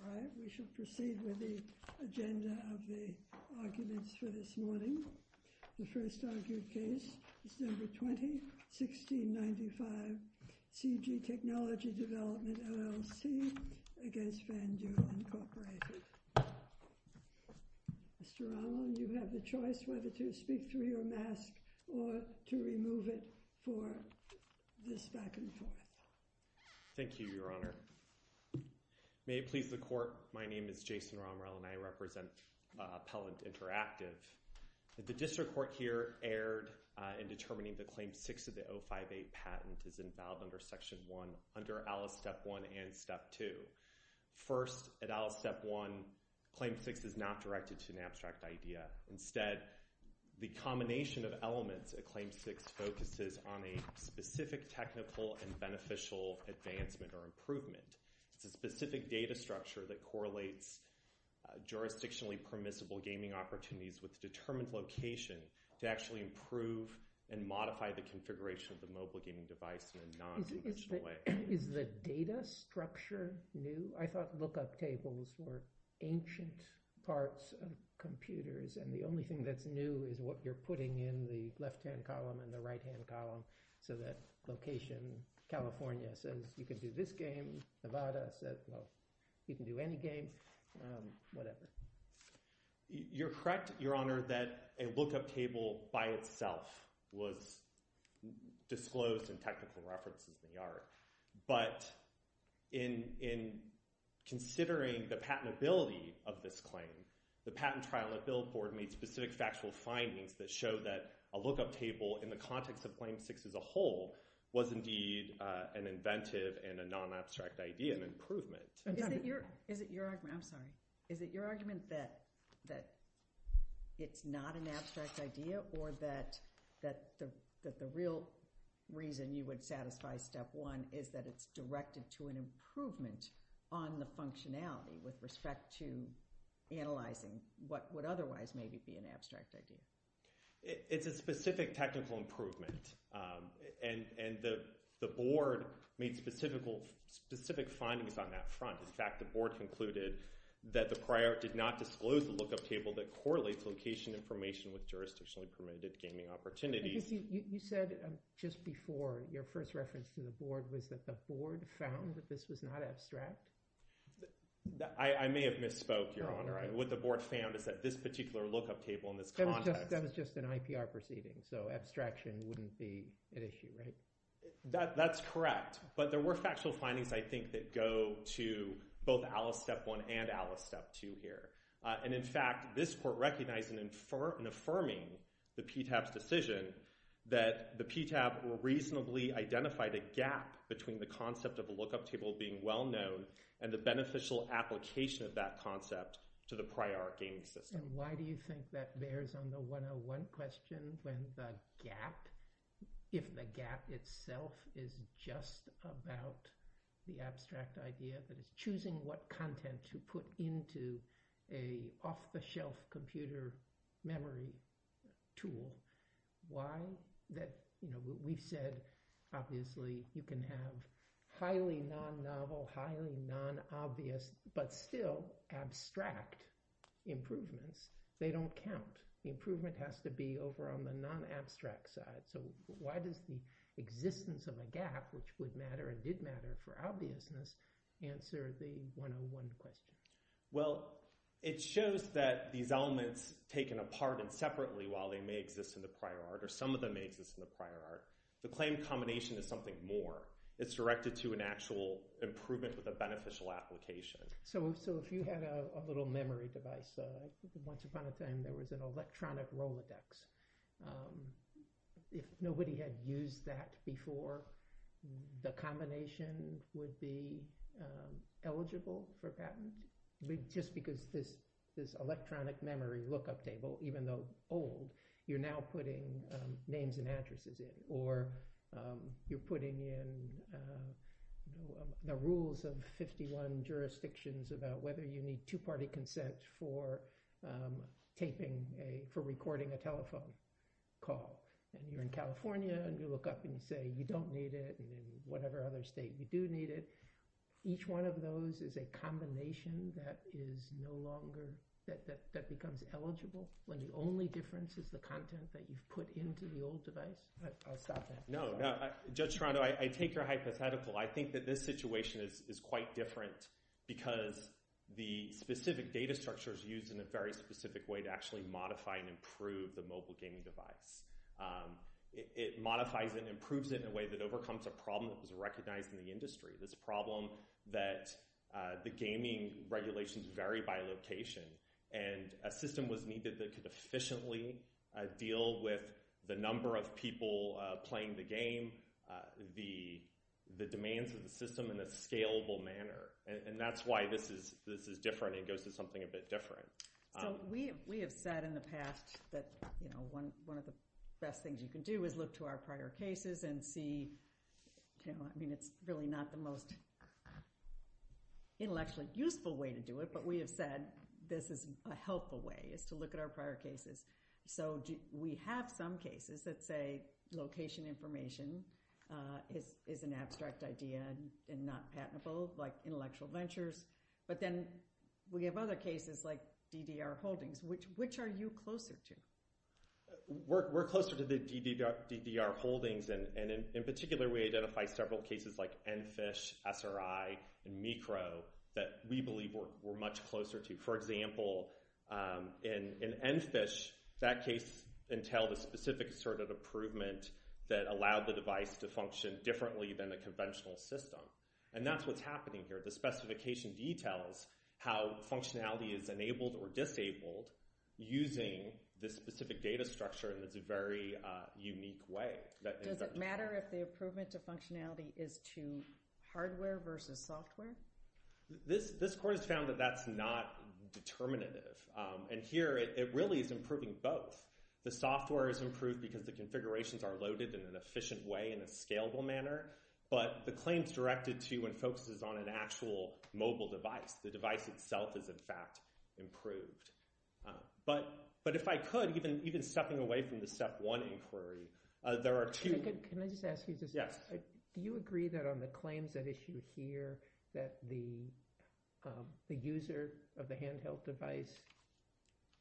All right, we shall proceed with the agenda of the arguments for this morning. The first argued case, December 20, 1695, CG Technology Development, LLC against FanDuel, Inc. Mr. Allen, you have the choice whether to speak through your mask or to remove it for this back and forth. Thank you, Your Honor. May it please the Court, my name is Jason Romrell and I represent Appellant Interactive. The District Court here erred in determining that Claim 6 of the 058 patent is involved under Section 1 under Alice Step 1 and Step 2. First, at Alice Step 1, Claim 6 is not directed to an abstract idea. Instead, the combination of elements at Claim 6 focuses on a specific technical and beneficial advancement or improvement. It's a specific data structure that correlates jurisdictionally permissible gaming opportunities with determined location to actually improve and modify the configuration of the mobile gaming device in a non-judicial way. Is the data structure new? I thought lookup tables were ancient parts of computers and the only thing that's new is what you're putting in the left-hand column and the right-hand column so that location, California says you can do this game, Nevada says, well, you can do any game, whatever. You're correct, Your Honor, that a lookup table by itself was disclosed in technical references in the art, but in considering the patentability of this claim, the patent trial at Billboard made specific factual findings that show that a lookup table in the context of Claim 6 as a whole was indeed an inventive and a non-abstract idea, an improvement. Is it your argument that it's not an abstract idea or that the real reason you would satisfy Step 1 is that it's directed to an improvement on the functionality with respect to analyzing what would otherwise maybe be an abstract idea? It's a specific technical improvement and the board made specific findings on that front. In fact, the board concluded that the prior did not disclose the lookup table that correlates location information with jurisdictionally permitted gaming opportunities. You said just before your first reference to the board was that the board found that this was not abstract? I may have misspoke, Your Honor. What the board found is that this particular lookup table in this context— That was just an IPR proceeding, so abstraction wouldn't be an issue, right? That's correct, but there were factual findings, I think, that go to both Alice Step 1 and Alice Step 2 here. In fact, this court recognized in affirming the PTAB's decision that the PTAB reasonably identified a gap between the concept of a lookup table being well known and the beneficial application of that concept to the prior gaming system. Why do you think that bears on the 101 question when the gap, if the gap itself is just about the abstract idea that is choosing what content to put into an off-the-shelf computer memory tool? We've said, obviously, you can have highly non-novel, highly non-obvious, but still abstract improvements. They don't count. The improvement has to be over on the non-abstract side. So why does the existence of a gap, which would matter and did matter for obviousness, answer the 101 question? Well, it shows that these elements taken apart and separately, while they may exist in the prior art or some of them may exist in the prior art, the claim combination is something more. It's directed to an actual improvement with a beneficial application. So if you had a little memory device, once upon a time there was an electronic Rolodex. If nobody had used that before, the combination would be eligible for patent. Just because this electronic memory lookup table, even though old, you're now putting names and addresses in, or you're putting in the rules of 51 jurisdictions about whether you need two-party consent for recording a telephone call. And you're in California and you look up and you say, you don't need it, and in whatever other state you do need it. Each one of those is a combination that is no longer, that becomes eligible when the only difference is the content that you've put into the old device. I'll stop there. No, no. Judge Toronto, I take your hypothetical. I think that this situation is quite different because the specific data structure is used in a very specific way to modify and improve the mobile gaming device. It modifies and improves it in a way that overcomes a problem that was recognized in the industry, this problem that the gaming regulations vary by location. And a system was needed that could efficiently deal with the number of people playing the game, the demands of the system in a scalable manner. And that's why this is different and goes to something a bit different. So we have said in the past that one of the best things you can do is look to our prior cases and see. I mean, it's really not the most intellectually useful way to do it, but we have said this is a helpful way is to look at our prior cases. So we have some cases that say location information is an abstract idea and not patentable, like intellectual ventures. But then we have other cases like DDR Holdings. Which are you closer to? We're closer to the DDR Holdings. And in particular, we identify several cases like EnFish, SRI, and Mikro that we believe we're much closer to. For example, in EnFish, that case entailed a specific sort of improvement that allowed the device to function differently than the conventional system. And that's what's happening here. The specification details how functionality is enabled or disabled using this specific data structure in this very unique way. Does it matter if the improvement to functionality is to hardware versus software? This court has found that that's not determinative. And here, it really is improving both. The software is improved because the configurations are loaded in an efficient way in a scalable manner. But the claims directed to and focuses on an actual mobile device, the device itself is, in fact, improved. But if I could, even stepping away from the step one inquiry, there are two. Can I just ask you this? Yes. Do you agree that on the claims at issue here that the user of the handheld device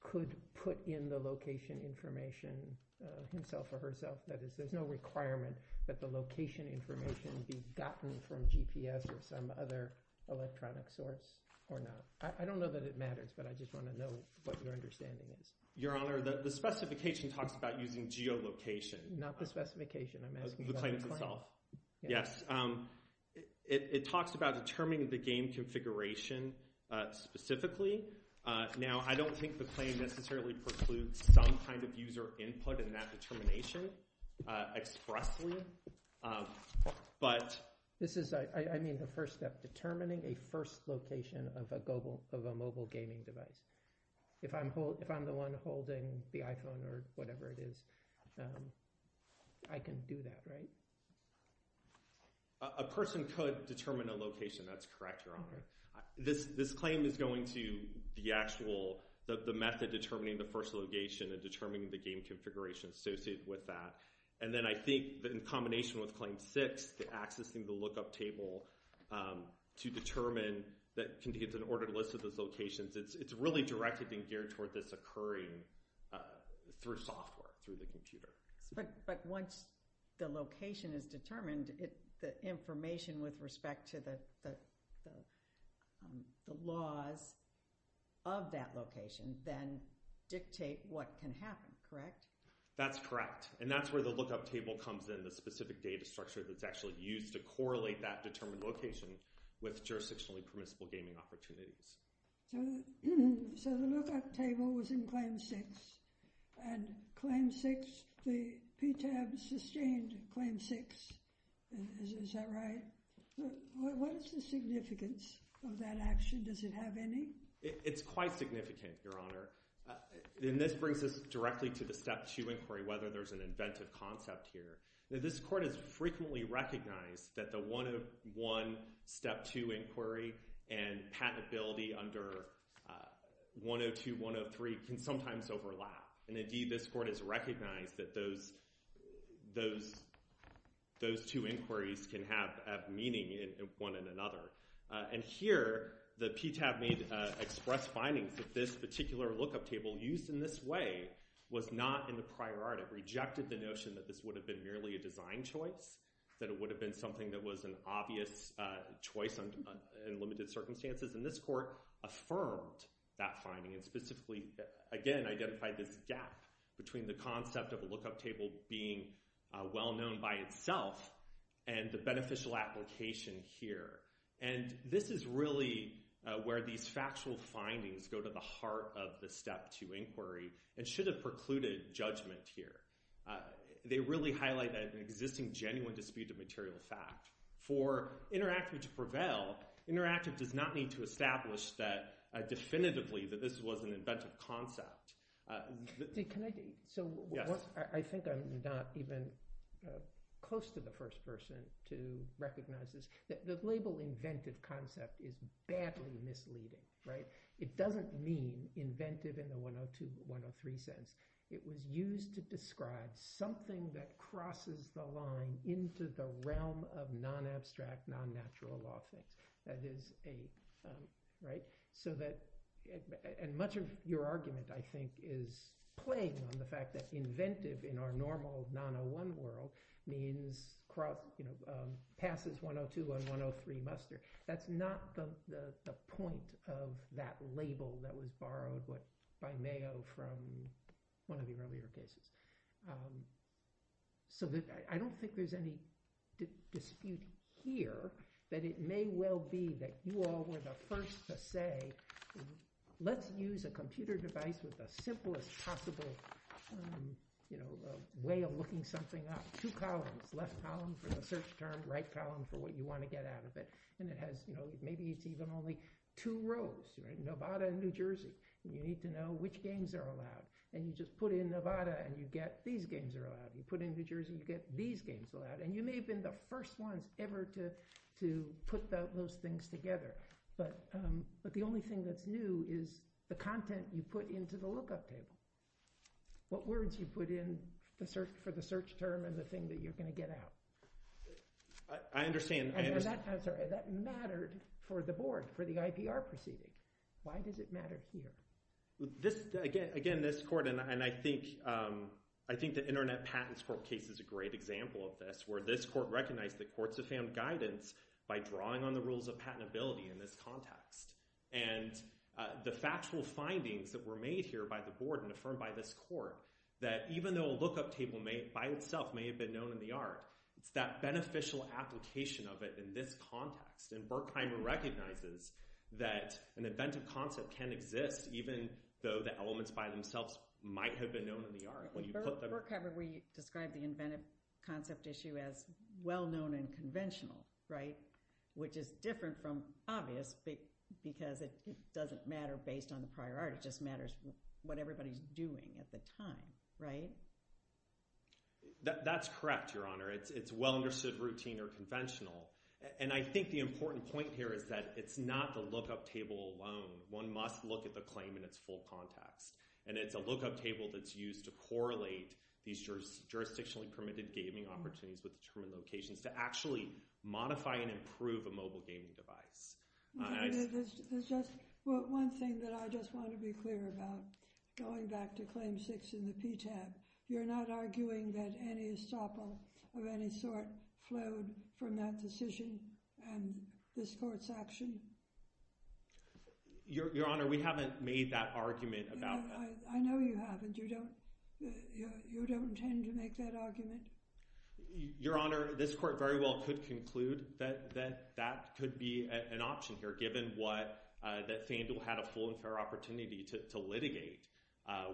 could put in the location information himself or herself? That is, there's no requirement that the location information be gotten from GPS or some other electronic source or not. I don't know that it matters, but I just want to know what your understanding is. Your Honor, the specification talks about using geolocation. Not the specification. I'm asking about the claim. The claim itself. Yes. It talks about determining the game configuration specifically. Now, I don't think the claim necessarily precludes some kind of user input in that determination expressly, but— This is, I mean, the first step, determining a first location of a mobile gaming device. If I'm the one holding the iPhone or whatever it is, I can do that, right? A person could determine a location. That's correct, Your Honor. This claim is going to the actual, the method determining the first location and determining the game configuration associated with that. And then I think in combination with Claim 6, accessing the lookup table to determine that it's an ordered list of those locations, it's really directly being geared toward this occurring through software, through the computer. But once the location is determined, the information with respect to the laws of that location then dictate what can happen, correct? That's correct. And that's where the lookup table comes in, the specific data structure that's actually used to correlate that determined location with jurisdictionally permissible gaming opportunities. So the lookup table was in Claim 6. And Claim 6, the PTAB sustained Claim 6. Is that right? What is the significance of that action? Does it have any? It's quite significant, Your Honor. And this brings us directly to the Step 2 inquiry, whether there's an inventive concept here. This Court has frequently recognized that the 101 Step 2 inquiry and patentability under 102-103 can sometimes overlap. And indeed, this Court has recognized that those two inquiries can have meaning in one and another. And here, the PTAB made expressed findings that this particular lookup table used in this way was not in the priority, rejected the notion that this would have been merely a design choice, that it would have been an obvious choice in limited circumstances. And this Court affirmed that finding and specifically, again, identified this gap between the concept of a lookup table being well known by itself and the beneficial application here. And this is really where these factual findings go to the heart of the Step 2 inquiry and should have precluded judgment here. They really highlight an existing genuine dispute of material fact. For interactive to prevail, interactive does not need to establish definitively that this was an inventive concept. I think I'm not even close to the first person to recognize this. The label inventive concept is badly misleading. It doesn't mean inventive in the 102-103 sense. It was used to describe something that crosses the line into the realm of non-abstract, non-natural law things. And much of your argument, I think, is playing on the fact that inventive in our normal 901 world means passes 102 on 103 muster. That's not the point of that label that was borrowed by Mayo from one of the earlier cases. So I don't think there's any dispute here, that it may well be that you all were the first to say, let's use a computer device with the simplest possible way of looking something up. Two columns, left column for the search term, right column for what you want to get out of it. And it has, you know, maybe it's even only two rows, Nevada and New Jersey. You need to know which games are allowed. And you just put in Nevada and you get these games are allowed. You put in New Jersey, you get these games allowed. And you may have been the first ones ever to put those things together. But the only thing that's new is the content you put into the lookup table. What words you put in for the search term and the thing that you're going to get out. I understand. I'm sorry, that mattered for the board, for the IPR proceeding. Why does it matter here? Again, this court, and I think the Internet Patents Court case is a great example of this, where this court recognized that courts have found guidance by drawing on the rules of patentability in this context. And the factual findings that were made here by the board and affirmed by this court, that even though a lookup table by itself may have been known in the art, it's that beneficial application of it in this context. And Berkheimer recognizes that an inventive concept can exist even though the elements by themselves might have been known in the art. Berkheimer, we described the inventive concept issue as well-known and conventional, right? Which is different from obvious because it doesn't matter based on the prior art. It just matters what everybody's doing at the time, right? That's correct, Your Honor. It's well-understood, routine, or conventional. And I think the important point here is that it's not the lookup table alone. One must look at the claim in its full context. And it's a lookup table that's used to correlate these jurisdictionally permitted gaming opportunities with determined locations to actually modify and improve a mobile gaming device. One thing that I just want to be sure of is that there's not been any sort of any sort flowed from that decision and this court's action. Your Honor, we haven't made that argument about- I know you haven't. You don't intend to make that argument. Your Honor, this court very well could conclude that that could be an option here given what that Fandel had a full and fair opportunity to litigate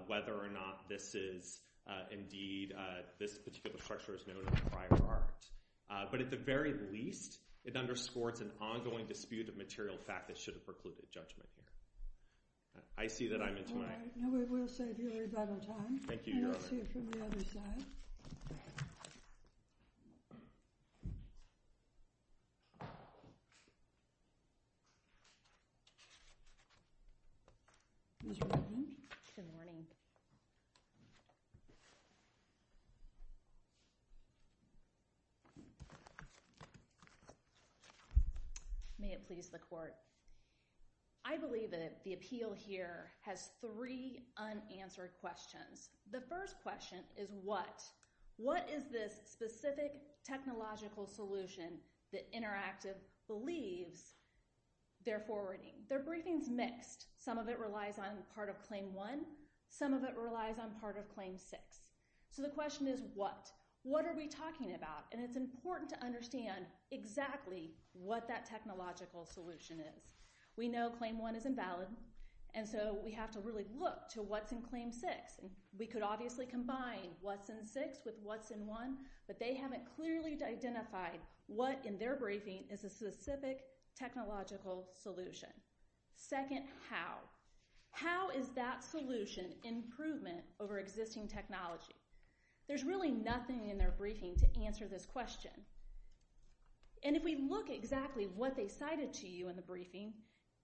whether or not this is indeed this particular structure is known as a prior art. But at the very least, it underscores an ongoing dispute of material fact that should have precluded judgment here. I see that I'm into my- All right. Now we will save your rebuttal time. Thank you, Your Honor. And we'll see you from the other side. Ms. Rodney? Good morning. May it please the court. I believe that the appeal here has three unanswered questions. The first question is what. What is this specific technological solution that Interactive believes they're forwarding? Their briefing's mixed. Some of it relies on part of Claim 1. Some of it relies on part of Claim 6. So the question is what. What are we talking about? And it's important to understand exactly what that technological solution is. We know Claim 1 is invalid, and so we have to really look to what's in Claim 6. And we could obviously combine what's in 6 with what's in 1, but they haven't clearly identified what in their briefing is a specific technological solution. Second, how. How is that solution improvement over existing technology? There's really nothing in their briefing to answer this question. And if we look at exactly what they cited to you in the briefing,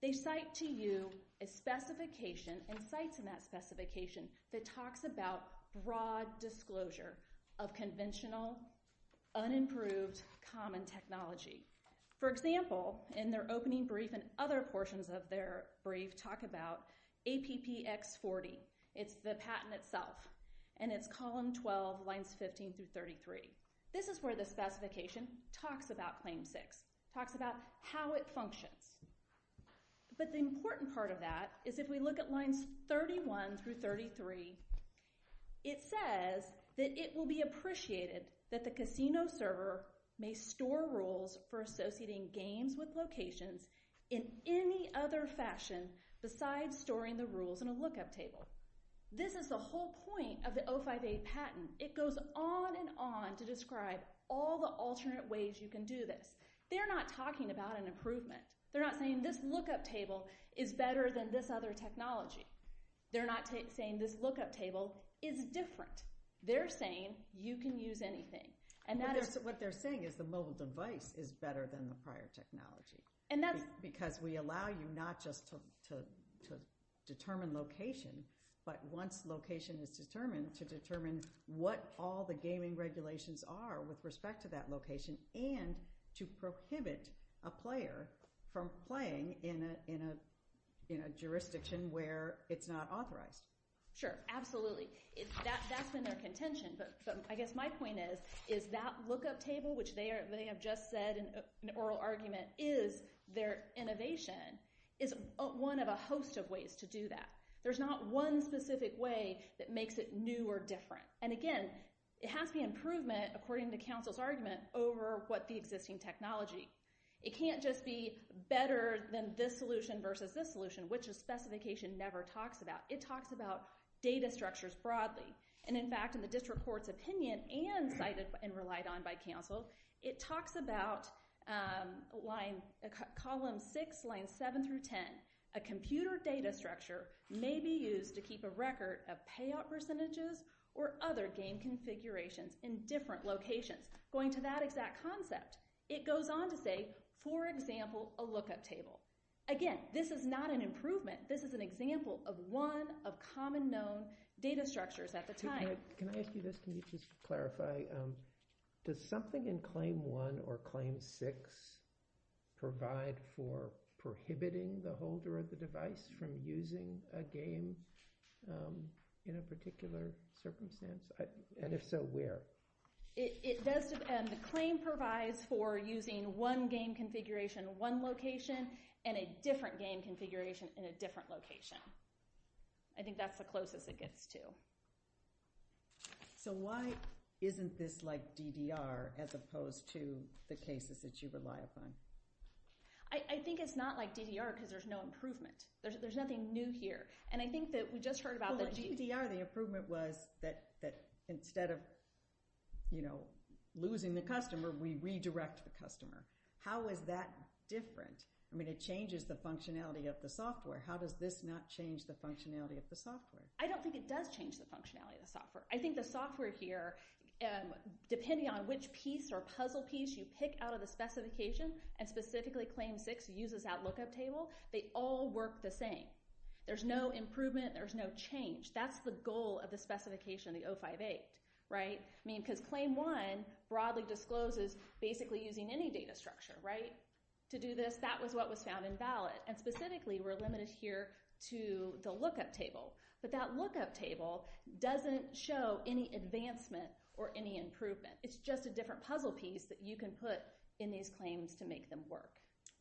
they cite to you a specification and cites in that specification that talks about broad disclosure of conventional, unimproved, common technology. For example, in their opening brief and other portions of their brief talk about APPX40. It's the patent itself, and it's column 12, lines 15 through 33. This is where the specification talks about Claim 6, talks about how it functions. But the important part of that is if we look at lines 31 through 33, it says that it will be appreciated that the casino server may store rules for associating games with locations in any other fashion besides storing the rules in a lookup table. This is the whole point of the 05A patent. It goes on and on to describe all the alternate ways you can do this. They're not talking about an improvement. They're not saying this lookup table is better than this other technology. They're not saying this lookup table is different. They're saying you can use anything. What they're saying is the mobile device is better than the prior technology because we allow you not just to determine location, but once location is determined, to determine what all the gaming regulations are with respect to that location, and to prohibit a player from playing in a jurisdiction where it's not authorized. Sure, absolutely. That's been their contention, but I guess my point is, is that lookup table, which they have just said in an oral argument is their innovation, is one of a host of ways to do that. There's not one specific way that makes it new or different. And again, it has to be an improvement, according to counsel's argument, over what the existing technology. It can't just be better than this solution versus this solution, which a specification never talks about. It talks about data structures broadly. And in fact, in the district court's opinion and cited and relied on by counsel, it talks about line, column six, line seven through ten. A computer data structure may be used to keep a record of payout percentages or other game configurations in different locations, going to that exact concept. It goes on to say, for example, a lookup table. Again, this is not an improvement. This is an example of one of common known data structures at the time. Can I ask you this? Can you just clarify? Does something in claim one or claim six provide for prohibiting the holder of the device from using a game in a particular circumstance? And if so, where? The claim provides for using one game configuration in one location and a different game configuration in a different location. I think that's the closest it gets to. So, why isn't this like DDR as opposed to the cases that you rely upon? I think it's not like DDR because there's no improvement. There's nothing new here. And I think that we just heard about that. Well, with DDR, the improvement was that instead of, you know, losing the customer, we redirect the customer. How is that different? I mean, it changes the functionality of the software. How does this not change the functionality of software? I don't think it does change the functionality of the software. I think the software here, depending on which piece or puzzle piece you pick out of the specification, and specifically claim six uses that lookup table, they all work the same. There's no improvement. There's no change. That's the goal of the specification, the 058, right? I mean, because claim one broadly discloses basically using any data structure, right? To do this, that was what was found invalid. And specifically, we're limited here to the lookup table. But that lookup table doesn't show any advancement or any improvement. It's just a different puzzle piece that you can put in these claims to make them work.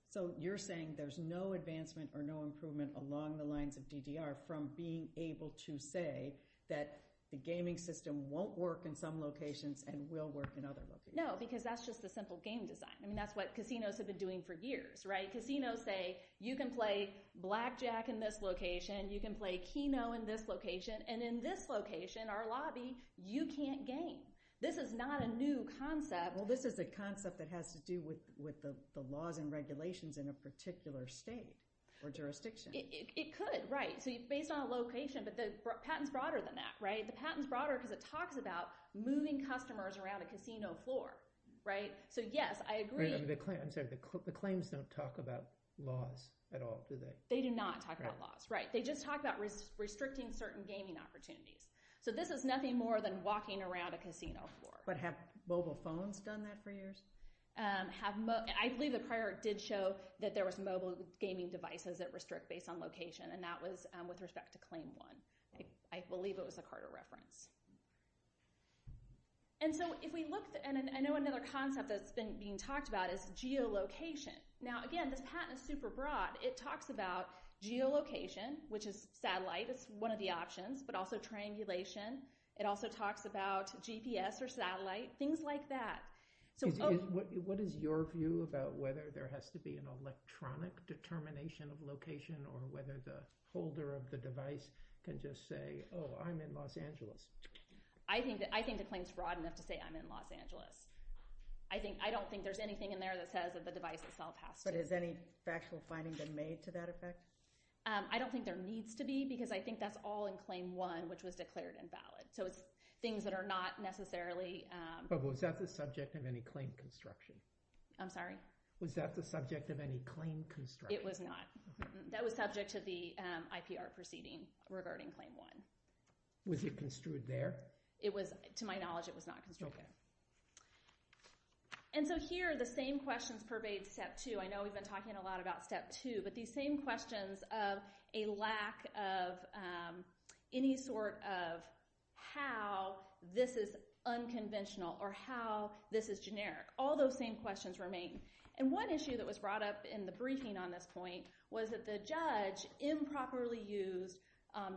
So, you're saying there's no advancement or no improvement along the lines of DDR from being able to say that the gaming system won't work in some locations and will work in other locations? No, because that's just the simple game design. I mean, that's what casinos have been doing for years, right? Casinos say, you can play Blackjack in this location. You can play Keno in this location. And in this location, our lobby, you can't game. This is not a new concept. Well, this is a concept that has to do with the laws and regulations in a particular state or jurisdiction. It could, right? So, based on a location, but the patent's broader than that, right? The patent's broader because it talks about moving customers around a casino floor, right? So, yes, I agree. I'm sorry. The claims don't talk about laws at all, do they? They do not talk about laws, right? They just talk about restricting certain gaming opportunities. So, this is nothing more than walking around a casino floor. But have mobile phones done that for years? I believe the prior did show that there was mobile gaming devices that restrict based on location, and that was with respect to claim one. I believe it was a Carter reference. And so, if we looked, and I know another concept that's been being talked about is geolocation. Now, again, this patent is super broad. It talks about geolocation, which is satellite. It's one of the options, but also triangulation. It also talks about GPS or satellite, things like that. What is your view about whether there has to be an electronic determination of location or whether the holder of the device can just say, oh, I'm in Los Angeles? I think the claim is broad enough to say I'm in Los Angeles. I don't think there's anything in there that says that the device itself has to. But has any factual finding been made to that effect? I don't think there needs to be because I think that's all in claim one, which was declared invalid. So, it's things that are not necessarily... But was that the subject of any claim construction? I'm sorry? Was that the subject of any claim construction? It was not. That was subject to the IPR proceeding regarding claim one. Was it construed there? It was. To my knowledge, it was not construed there. So, here, the same questions pervade step two. I know we've been talking a lot about step two, but these same questions of a lack of any sort of how this is unconventional or how this is generic, all those same questions remain. And one issue that was brought up in the briefing on this point was that the judge improperly used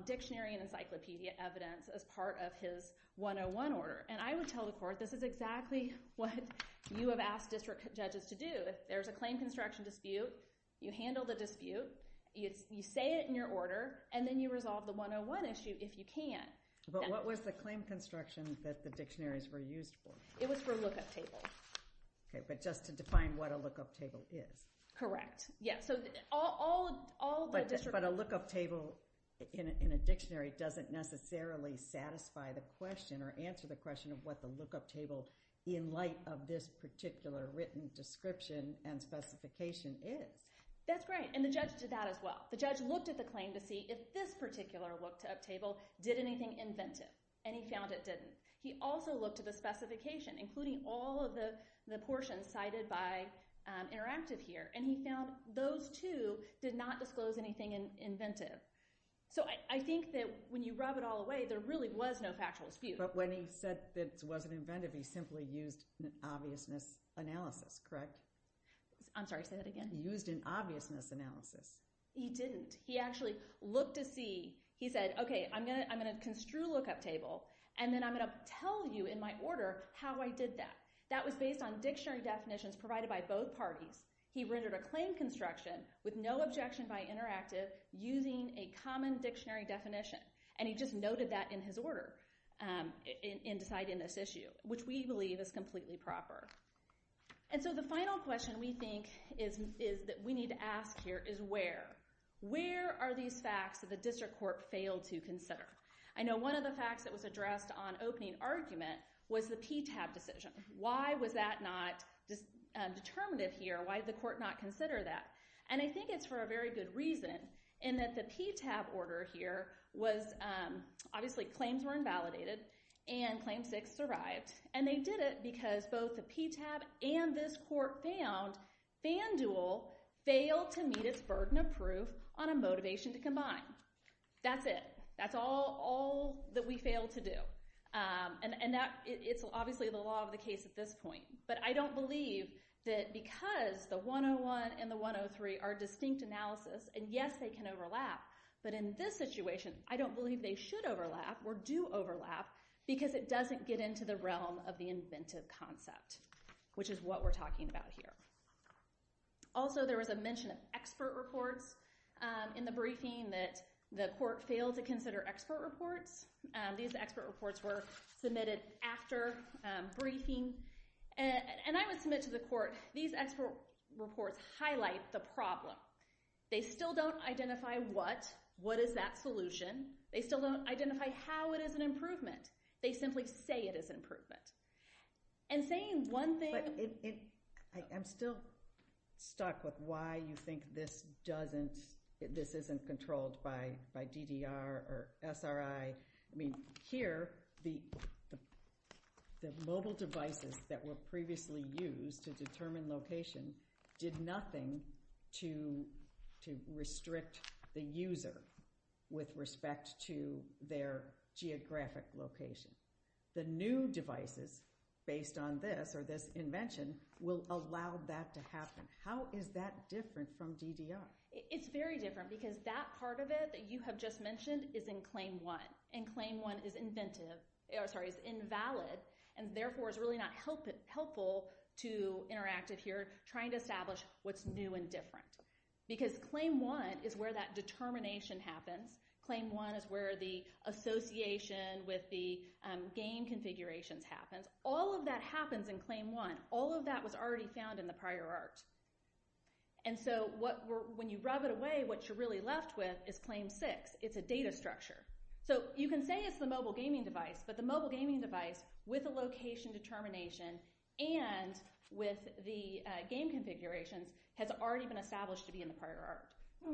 dictionary and encyclopedia evidence as part of his 101 order. And I would tell the court, this is exactly what you have asked district judges to do. There's a claim construction dispute, you handle the dispute, you say it in your order, and then you resolve the 101 issue if you can. But what was the claim construction that the dictionaries were used for? It was for lookup tables. Okay. But just to define what a lookup table is. Correct. Yeah. So, all the district... But a lookup table in a dictionary doesn't necessarily satisfy the question or answer the question of what the lookup table in light of this particular written description and specification is. That's right. And the judge did that as well. The judge looked at the claim to see if this particular lookup table did anything inventive, and he found it didn't. He also looked at the specification, including all of the portions cited by Interactive here, and he found those two did not disclose anything inventive. So, I think that when you rub it all away, there really was no factual dispute. But when he said it wasn't inventive, he simply used an obviousness analysis, correct? I'm sorry, say that again. Used an obviousness analysis. He didn't. He actually looked to see... He said, okay, I'm going to construe a lookup table, and then I'm going to tell you in my order how I did that. That was based on dictionary definitions provided by both parties. He rendered a claim construction with no objection by Interactive using a common dictionary definition, and he just noted that in his order in deciding this issue, which we believe is completely proper. And so, the final question we think is that we need to ask here is where. Where are these facts that the district court failed to consider? I know one of the facts that was addressed on opening argument was the PTAB decision. Why was that not determinative here? Why did the court not consider that? And I think it's for a very good reason, in that the PTAB order here was... Obviously, claims were invalidated, and Claim 6 survived. And they did it because both the PTAB and this court found FanDuel failed to meet its burden of proof on a motivation to combine. That's it. That's all that we failed to do. And it's obviously the law of the case at this point. But I don't believe that because the 101 and the 103 are distinct analysis, and yes, they can overlap, but in this situation, I don't believe they should overlap or do overlap because it doesn't get into the realm of the inventive concept, which is what we're talking about here. Also, there was a mention of expert reports in the briefing that the court failed to consider expert reports. These expert reports were submitted after briefing, and I would submit to the court, these expert reports highlight the problem. They still don't identify what, what is that solution. They still don't identify how it is an improvement. They simply say it is an improvement. And saying one thing... I'm still stuck with why you think this doesn't, this isn't controlled by DDR or SRI. I mean, here, the mobile devices that were previously used to determine location did nothing to restrict the user with respect to their geographic location. The new devices based on this or this invention will allow that to happen. How is that different from DDR? It's very different because that part of it that you have just mentioned is in Claim 1, and Claim 1 is inventive, or sorry, is invalid, and therefore is really not helpful to interactive here trying to establish what's new and different. Because Claim 1 is where that determination happens. Claim 1 is where the association with the game configurations happens. All of that happens in Claim 1. All of that was already found in the prior art. And so when you rub it away, what you're really left with is Claim 6. It's a data structure. So you can say it's the mobile gaming device, but the mobile gaming device with a location determination and with the game configurations has already been established to be in the prior art.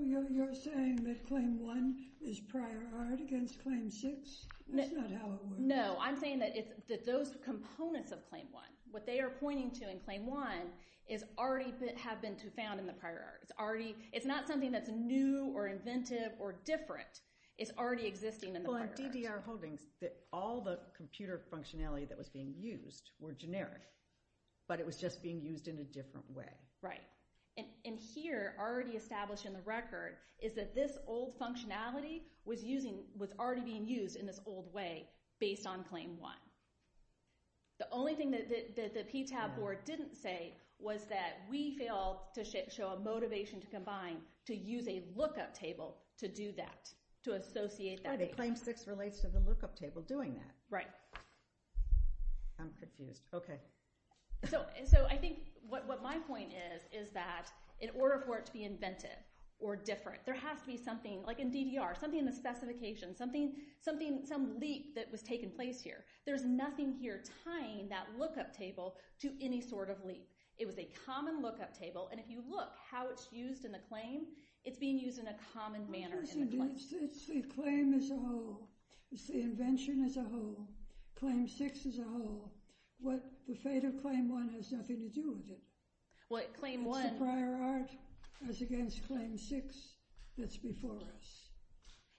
You're saying that Claim 1 is prior art against Claim 6? That's not how it works. No. I'm saying that those components of Claim 1, what they are pointing to in Claim 1 is already have been found in the prior art. It's not something that's new or inventive or different. It's already existing in the prior art. Well, in DDR holdings, all the computer functionality that was being used were generic, but it was just being used in a different way. Right. And here, already established in the record, is that this old functionality was already being used in this old way based on Claim 1. The only thing that the PTAB board didn't say was that we failed to show a motivation to combine, to use a lookup table to do that, to associate that. Claim 6 relates to the lookup table doing that. Right. I'm confused. Okay. So, I think what my point is, is that in order for it to be inventive or different, there has to be something, like in DDR, something in the specifications, something, some leap that was taking place here. There's nothing here tying that lookup table to any sort of leap. It was a common lookup table, and if you look how it's used in the claim, it's being used in a common manner in the claim. It's the claim as a whole. It's the invention as a whole. Claim 6 is a whole. The fate of Claim 1 has nothing to do with it. Well, Claim 1— It's a prior art as against Claim 6 that's before us.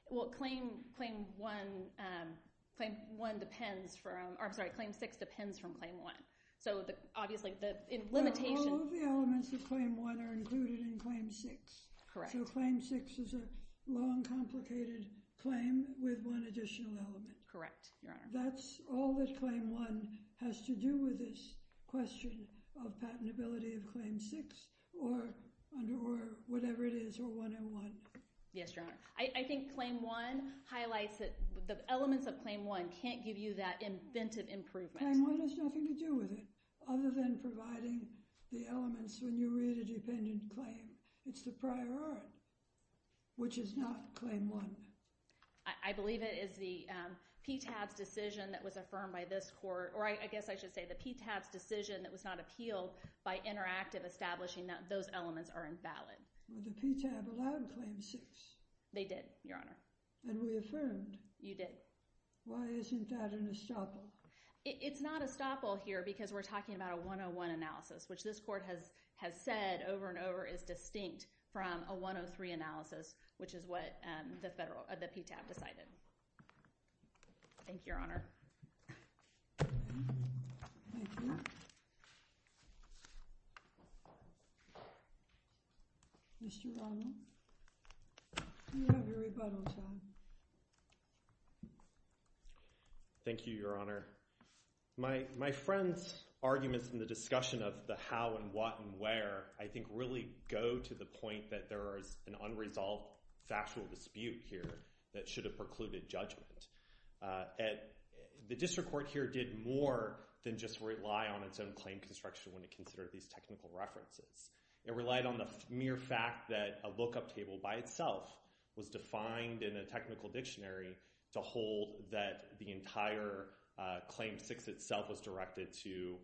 Well, Claim 1 depends from—or, I'm sorry, Claim 6 depends from Claim 1. So, obviously, the limitation— Well, all of the elements of Claim 1 are included in Claim 6. Correct. So, Claim 6 is a long, complicated claim with one additional element. Correct, Your Honor. That's all that Claim 1 has to do with this question of patentability of Claim 6 or whatever it is, or 101. Yes, Your Honor. I think Claim 1 highlights that the elements of Claim 1 can't give you that inventive improvement. Claim 1 has nothing to do with it other than providing the elements when you read a dependent claim. It's the prior art, which is not Claim 1. I believe it is the PTAB's decision that was affirmed by this court—or, I guess I should say the PTAB's decision that was not appealed by Interactive establishing that those elements are invalid. Well, the PTAB allowed Claim 6. They did, Your Honor. And we affirmed. You did. Why isn't that an estoppel? It's not an estoppel here because we're talking about a 101 analysis, which this PTAB decided. Thank you, Your Honor. Mr. Ronald, you have your rebuttal time. Thank you, Your Honor. My friend's arguments in the discussion of the how and what and where I think really go to the point that there is an unresolved factual dispute here that should have precluded judgment. The district court here did more than just rely on its own claim construction when it considered these technical references. It relied on the mere fact that a lookup table by itself was defined in a technical dictionary to hold that the entire Claim 6 itself was directed to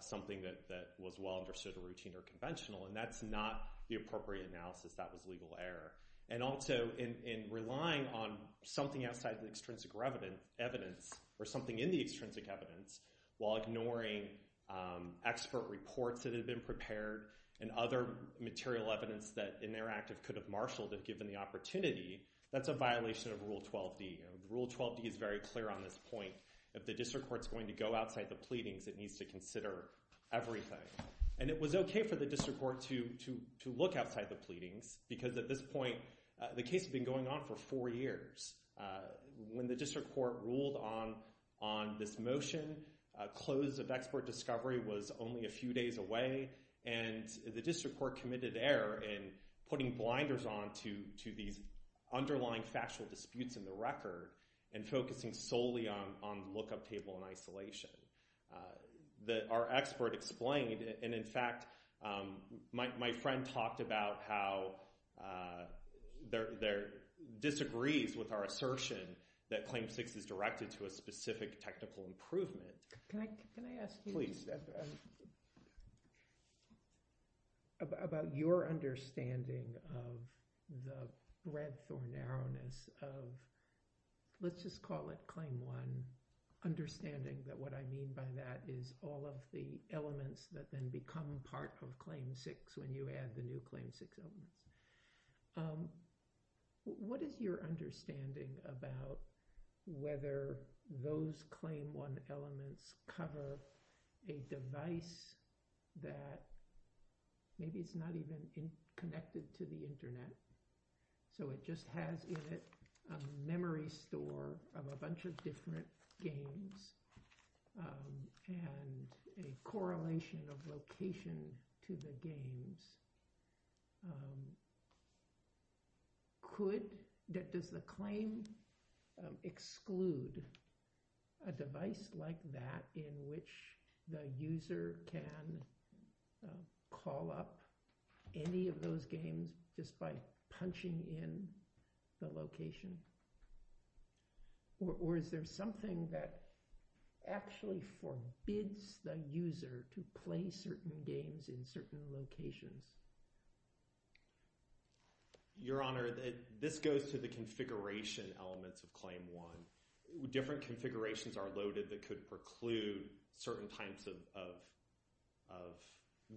something that was well understood or routine or conventional. And that's not the appropriate analysis. That was legal error. And also, in relying on something outside the extrinsic evidence or something in the extrinsic evidence while ignoring expert reports that had been prepared and other material evidence that Interactive could have marshaled if given the opportunity, that's a violation of Rule 12d. Rule 12d is very clear on this point. If the district court's going to go outside the pleadings, it needs to consider everything. And it was OK for the district court to look outside the pleadings because at this point the case had been going on for four years. When the district court ruled on this motion, close of expert discovery was only a few days away. And the district court committed error in putting blinders on to these underlying factual disputes in the record and focusing solely on the lookup table in isolation. That our expert explained. And in fact, my friend talked about how there disagrees with our assertion that Claim 6 is directed to a specific technical improvement. Can I ask you about your understanding of the breadth or narrowness of, let's just call it Claim 1, understanding that what I mean by that is all of the elements that then become part of Claim 6 when you add the new Claim 6 elements. What is your understanding about whether those Claim 1 elements cover a device that maybe it's not even connected to the internet? So it just has in it a memory store of a bunch of different games and a correlation of location to the games. Could, does the claim exclude a device like that in which the user can call up any of punching in the location? Or is there something that actually forbids the user to play certain games in certain locations? Your Honor, this goes to the configuration elements of Claim 1. Different configurations are loaded that could preclude certain types of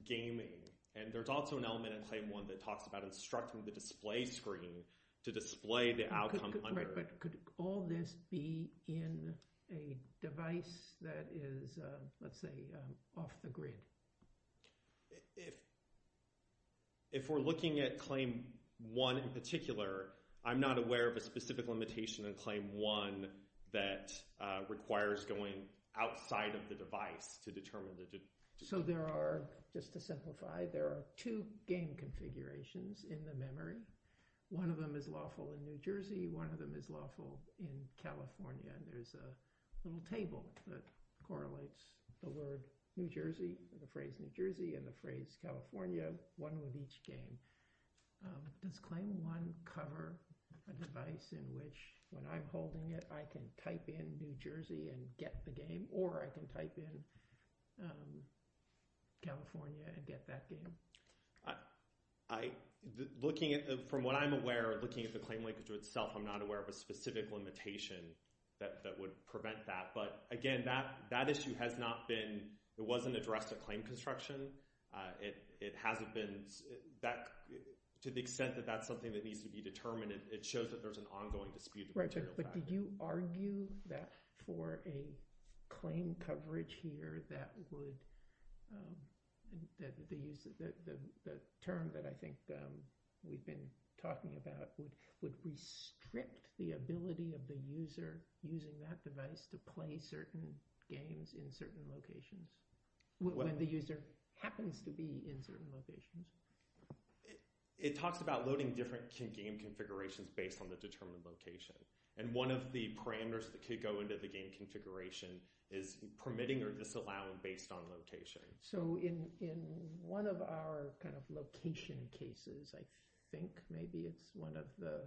gaming. And there's also an element in Claim 1 that talks about instructing the display screen to display the outcome. Right, but could all this be in a device that is, let's say, off the grid? If we're looking at Claim 1 in particular, I'm not aware of a specific limitation in Claim 1 that requires going outside of the device to determine. So there are, just to simplify, there are two game configurations in the memory. One of them is lawful in New Jersey. One of them is lawful in California. And there's a little table that correlates the word New Jersey, the phrase New Jersey, and the phrase California, one with each game. Does Claim 1 cover a device in which when I'm holding it, I can type in New Jersey and get the game, or I can type in California and get that game? From what I'm aware, looking at the claim linkage itself, I'm not aware of a specific limitation that would prevent that. But again, that issue has not been, it wasn't addressed at claim construction. It hasn't been. To the extent that that's something that needs to be determined, it shows that there's an ongoing dispute. But did you argue that for a claim coverage here that would, the term that I think we've been talking about, would restrict the ability of the user using that device to play certain games in certain locations, when the user happens to be in certain locations? It talks about loading different game configurations based on the determined location. One of the parameters that could go into the game configuration is permitting or disallowing based on location. So in one of our kind of location cases, I think maybe it's one of the,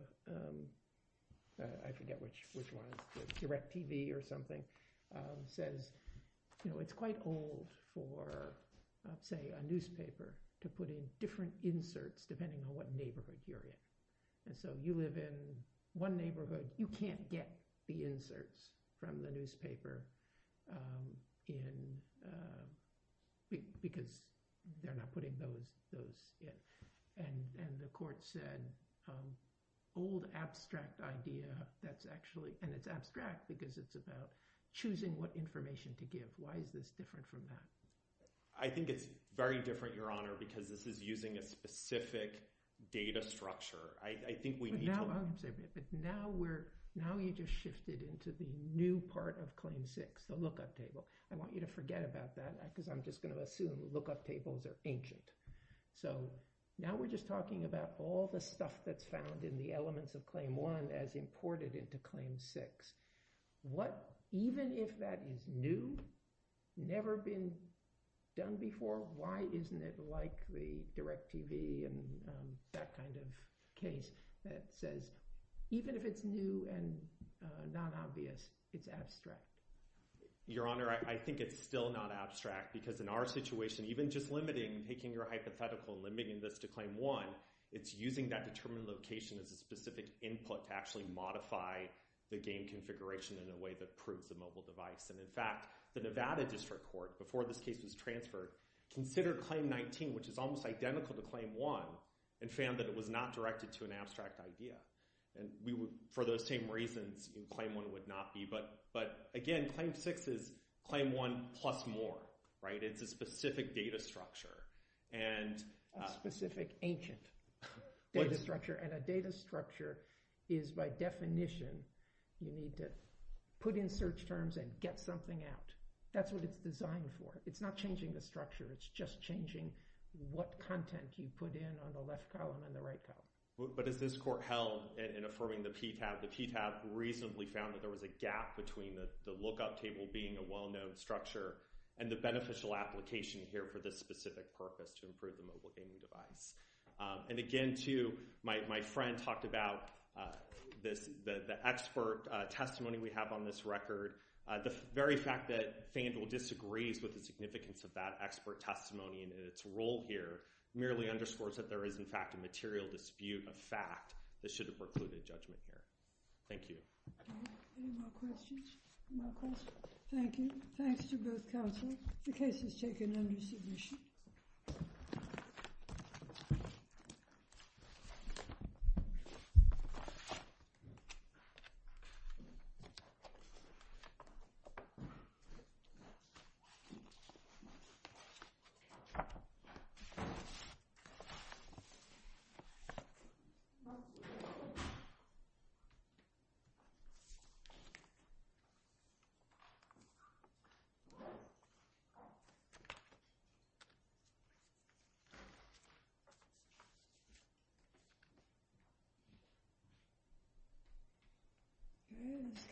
I forget which one, DirecTV or something, says it's quite old for, say, a newspaper to put in different inserts depending on what neighborhood you're in. And so you live in one neighborhood, you can't get the inserts from the newspaper because they're not putting those in. And the court said, old abstract idea that's actually, and it's abstract because it's about choosing what information to give. Why is this different from that? I think it's very different, Your Honor, because this is using a specific data structure. I think we need to— But now you just shifted into the new part of Claim 6, the lookup table. I want you to forget about that because I'm just going to assume lookup tables are ancient. So now we're just talking about all the stuff that's found in the elements of Claim 1 as imported into Claim 6. What, even if that is new, never been done before, why isn't it like the DirecTV and that kind of case that says, even if it's new and non-obvious, it's abstract? Your Honor, I think it's still not abstract because in our situation, even just limiting, taking your hypothetical and limiting this to Claim 1, it's using that determined location as a specific input to actually modify the game configuration in a way that proves the mobile device. And in fact, the Nevada District Court, before this case was transferred, considered Claim 19, which is almost identical to Claim 1, and found that it was not directed to an abstract idea. And we would, for those same reasons, Claim 1 would not be. But again, Claim 6 is Claim 1 plus more, right? It's a specific data structure. A specific ancient data structure. And a data structure is, by definition, you need to put in search terms and get something out. That's what it's designed for. It's not changing the structure. It's just changing what content you put in on the left column and the right column. But as this Court held in affirming the PTAB, the PTAB reasonably found that there was a gap between the lookup table being a well-known structure and the beneficial application here for this specific purpose, to improve the mobile gaming device. And again, too, my friend talked about the expert testimony we have on this record. The very fact that Fandel disagrees with the significance of that expert testimony and its role here merely underscores that there is, in fact, a material dispute of fact that should have precluded judgment here. Thank you. Any more questions? No questions? Thank you. Thanks to both counsel. The case is taken under submission. Thank you.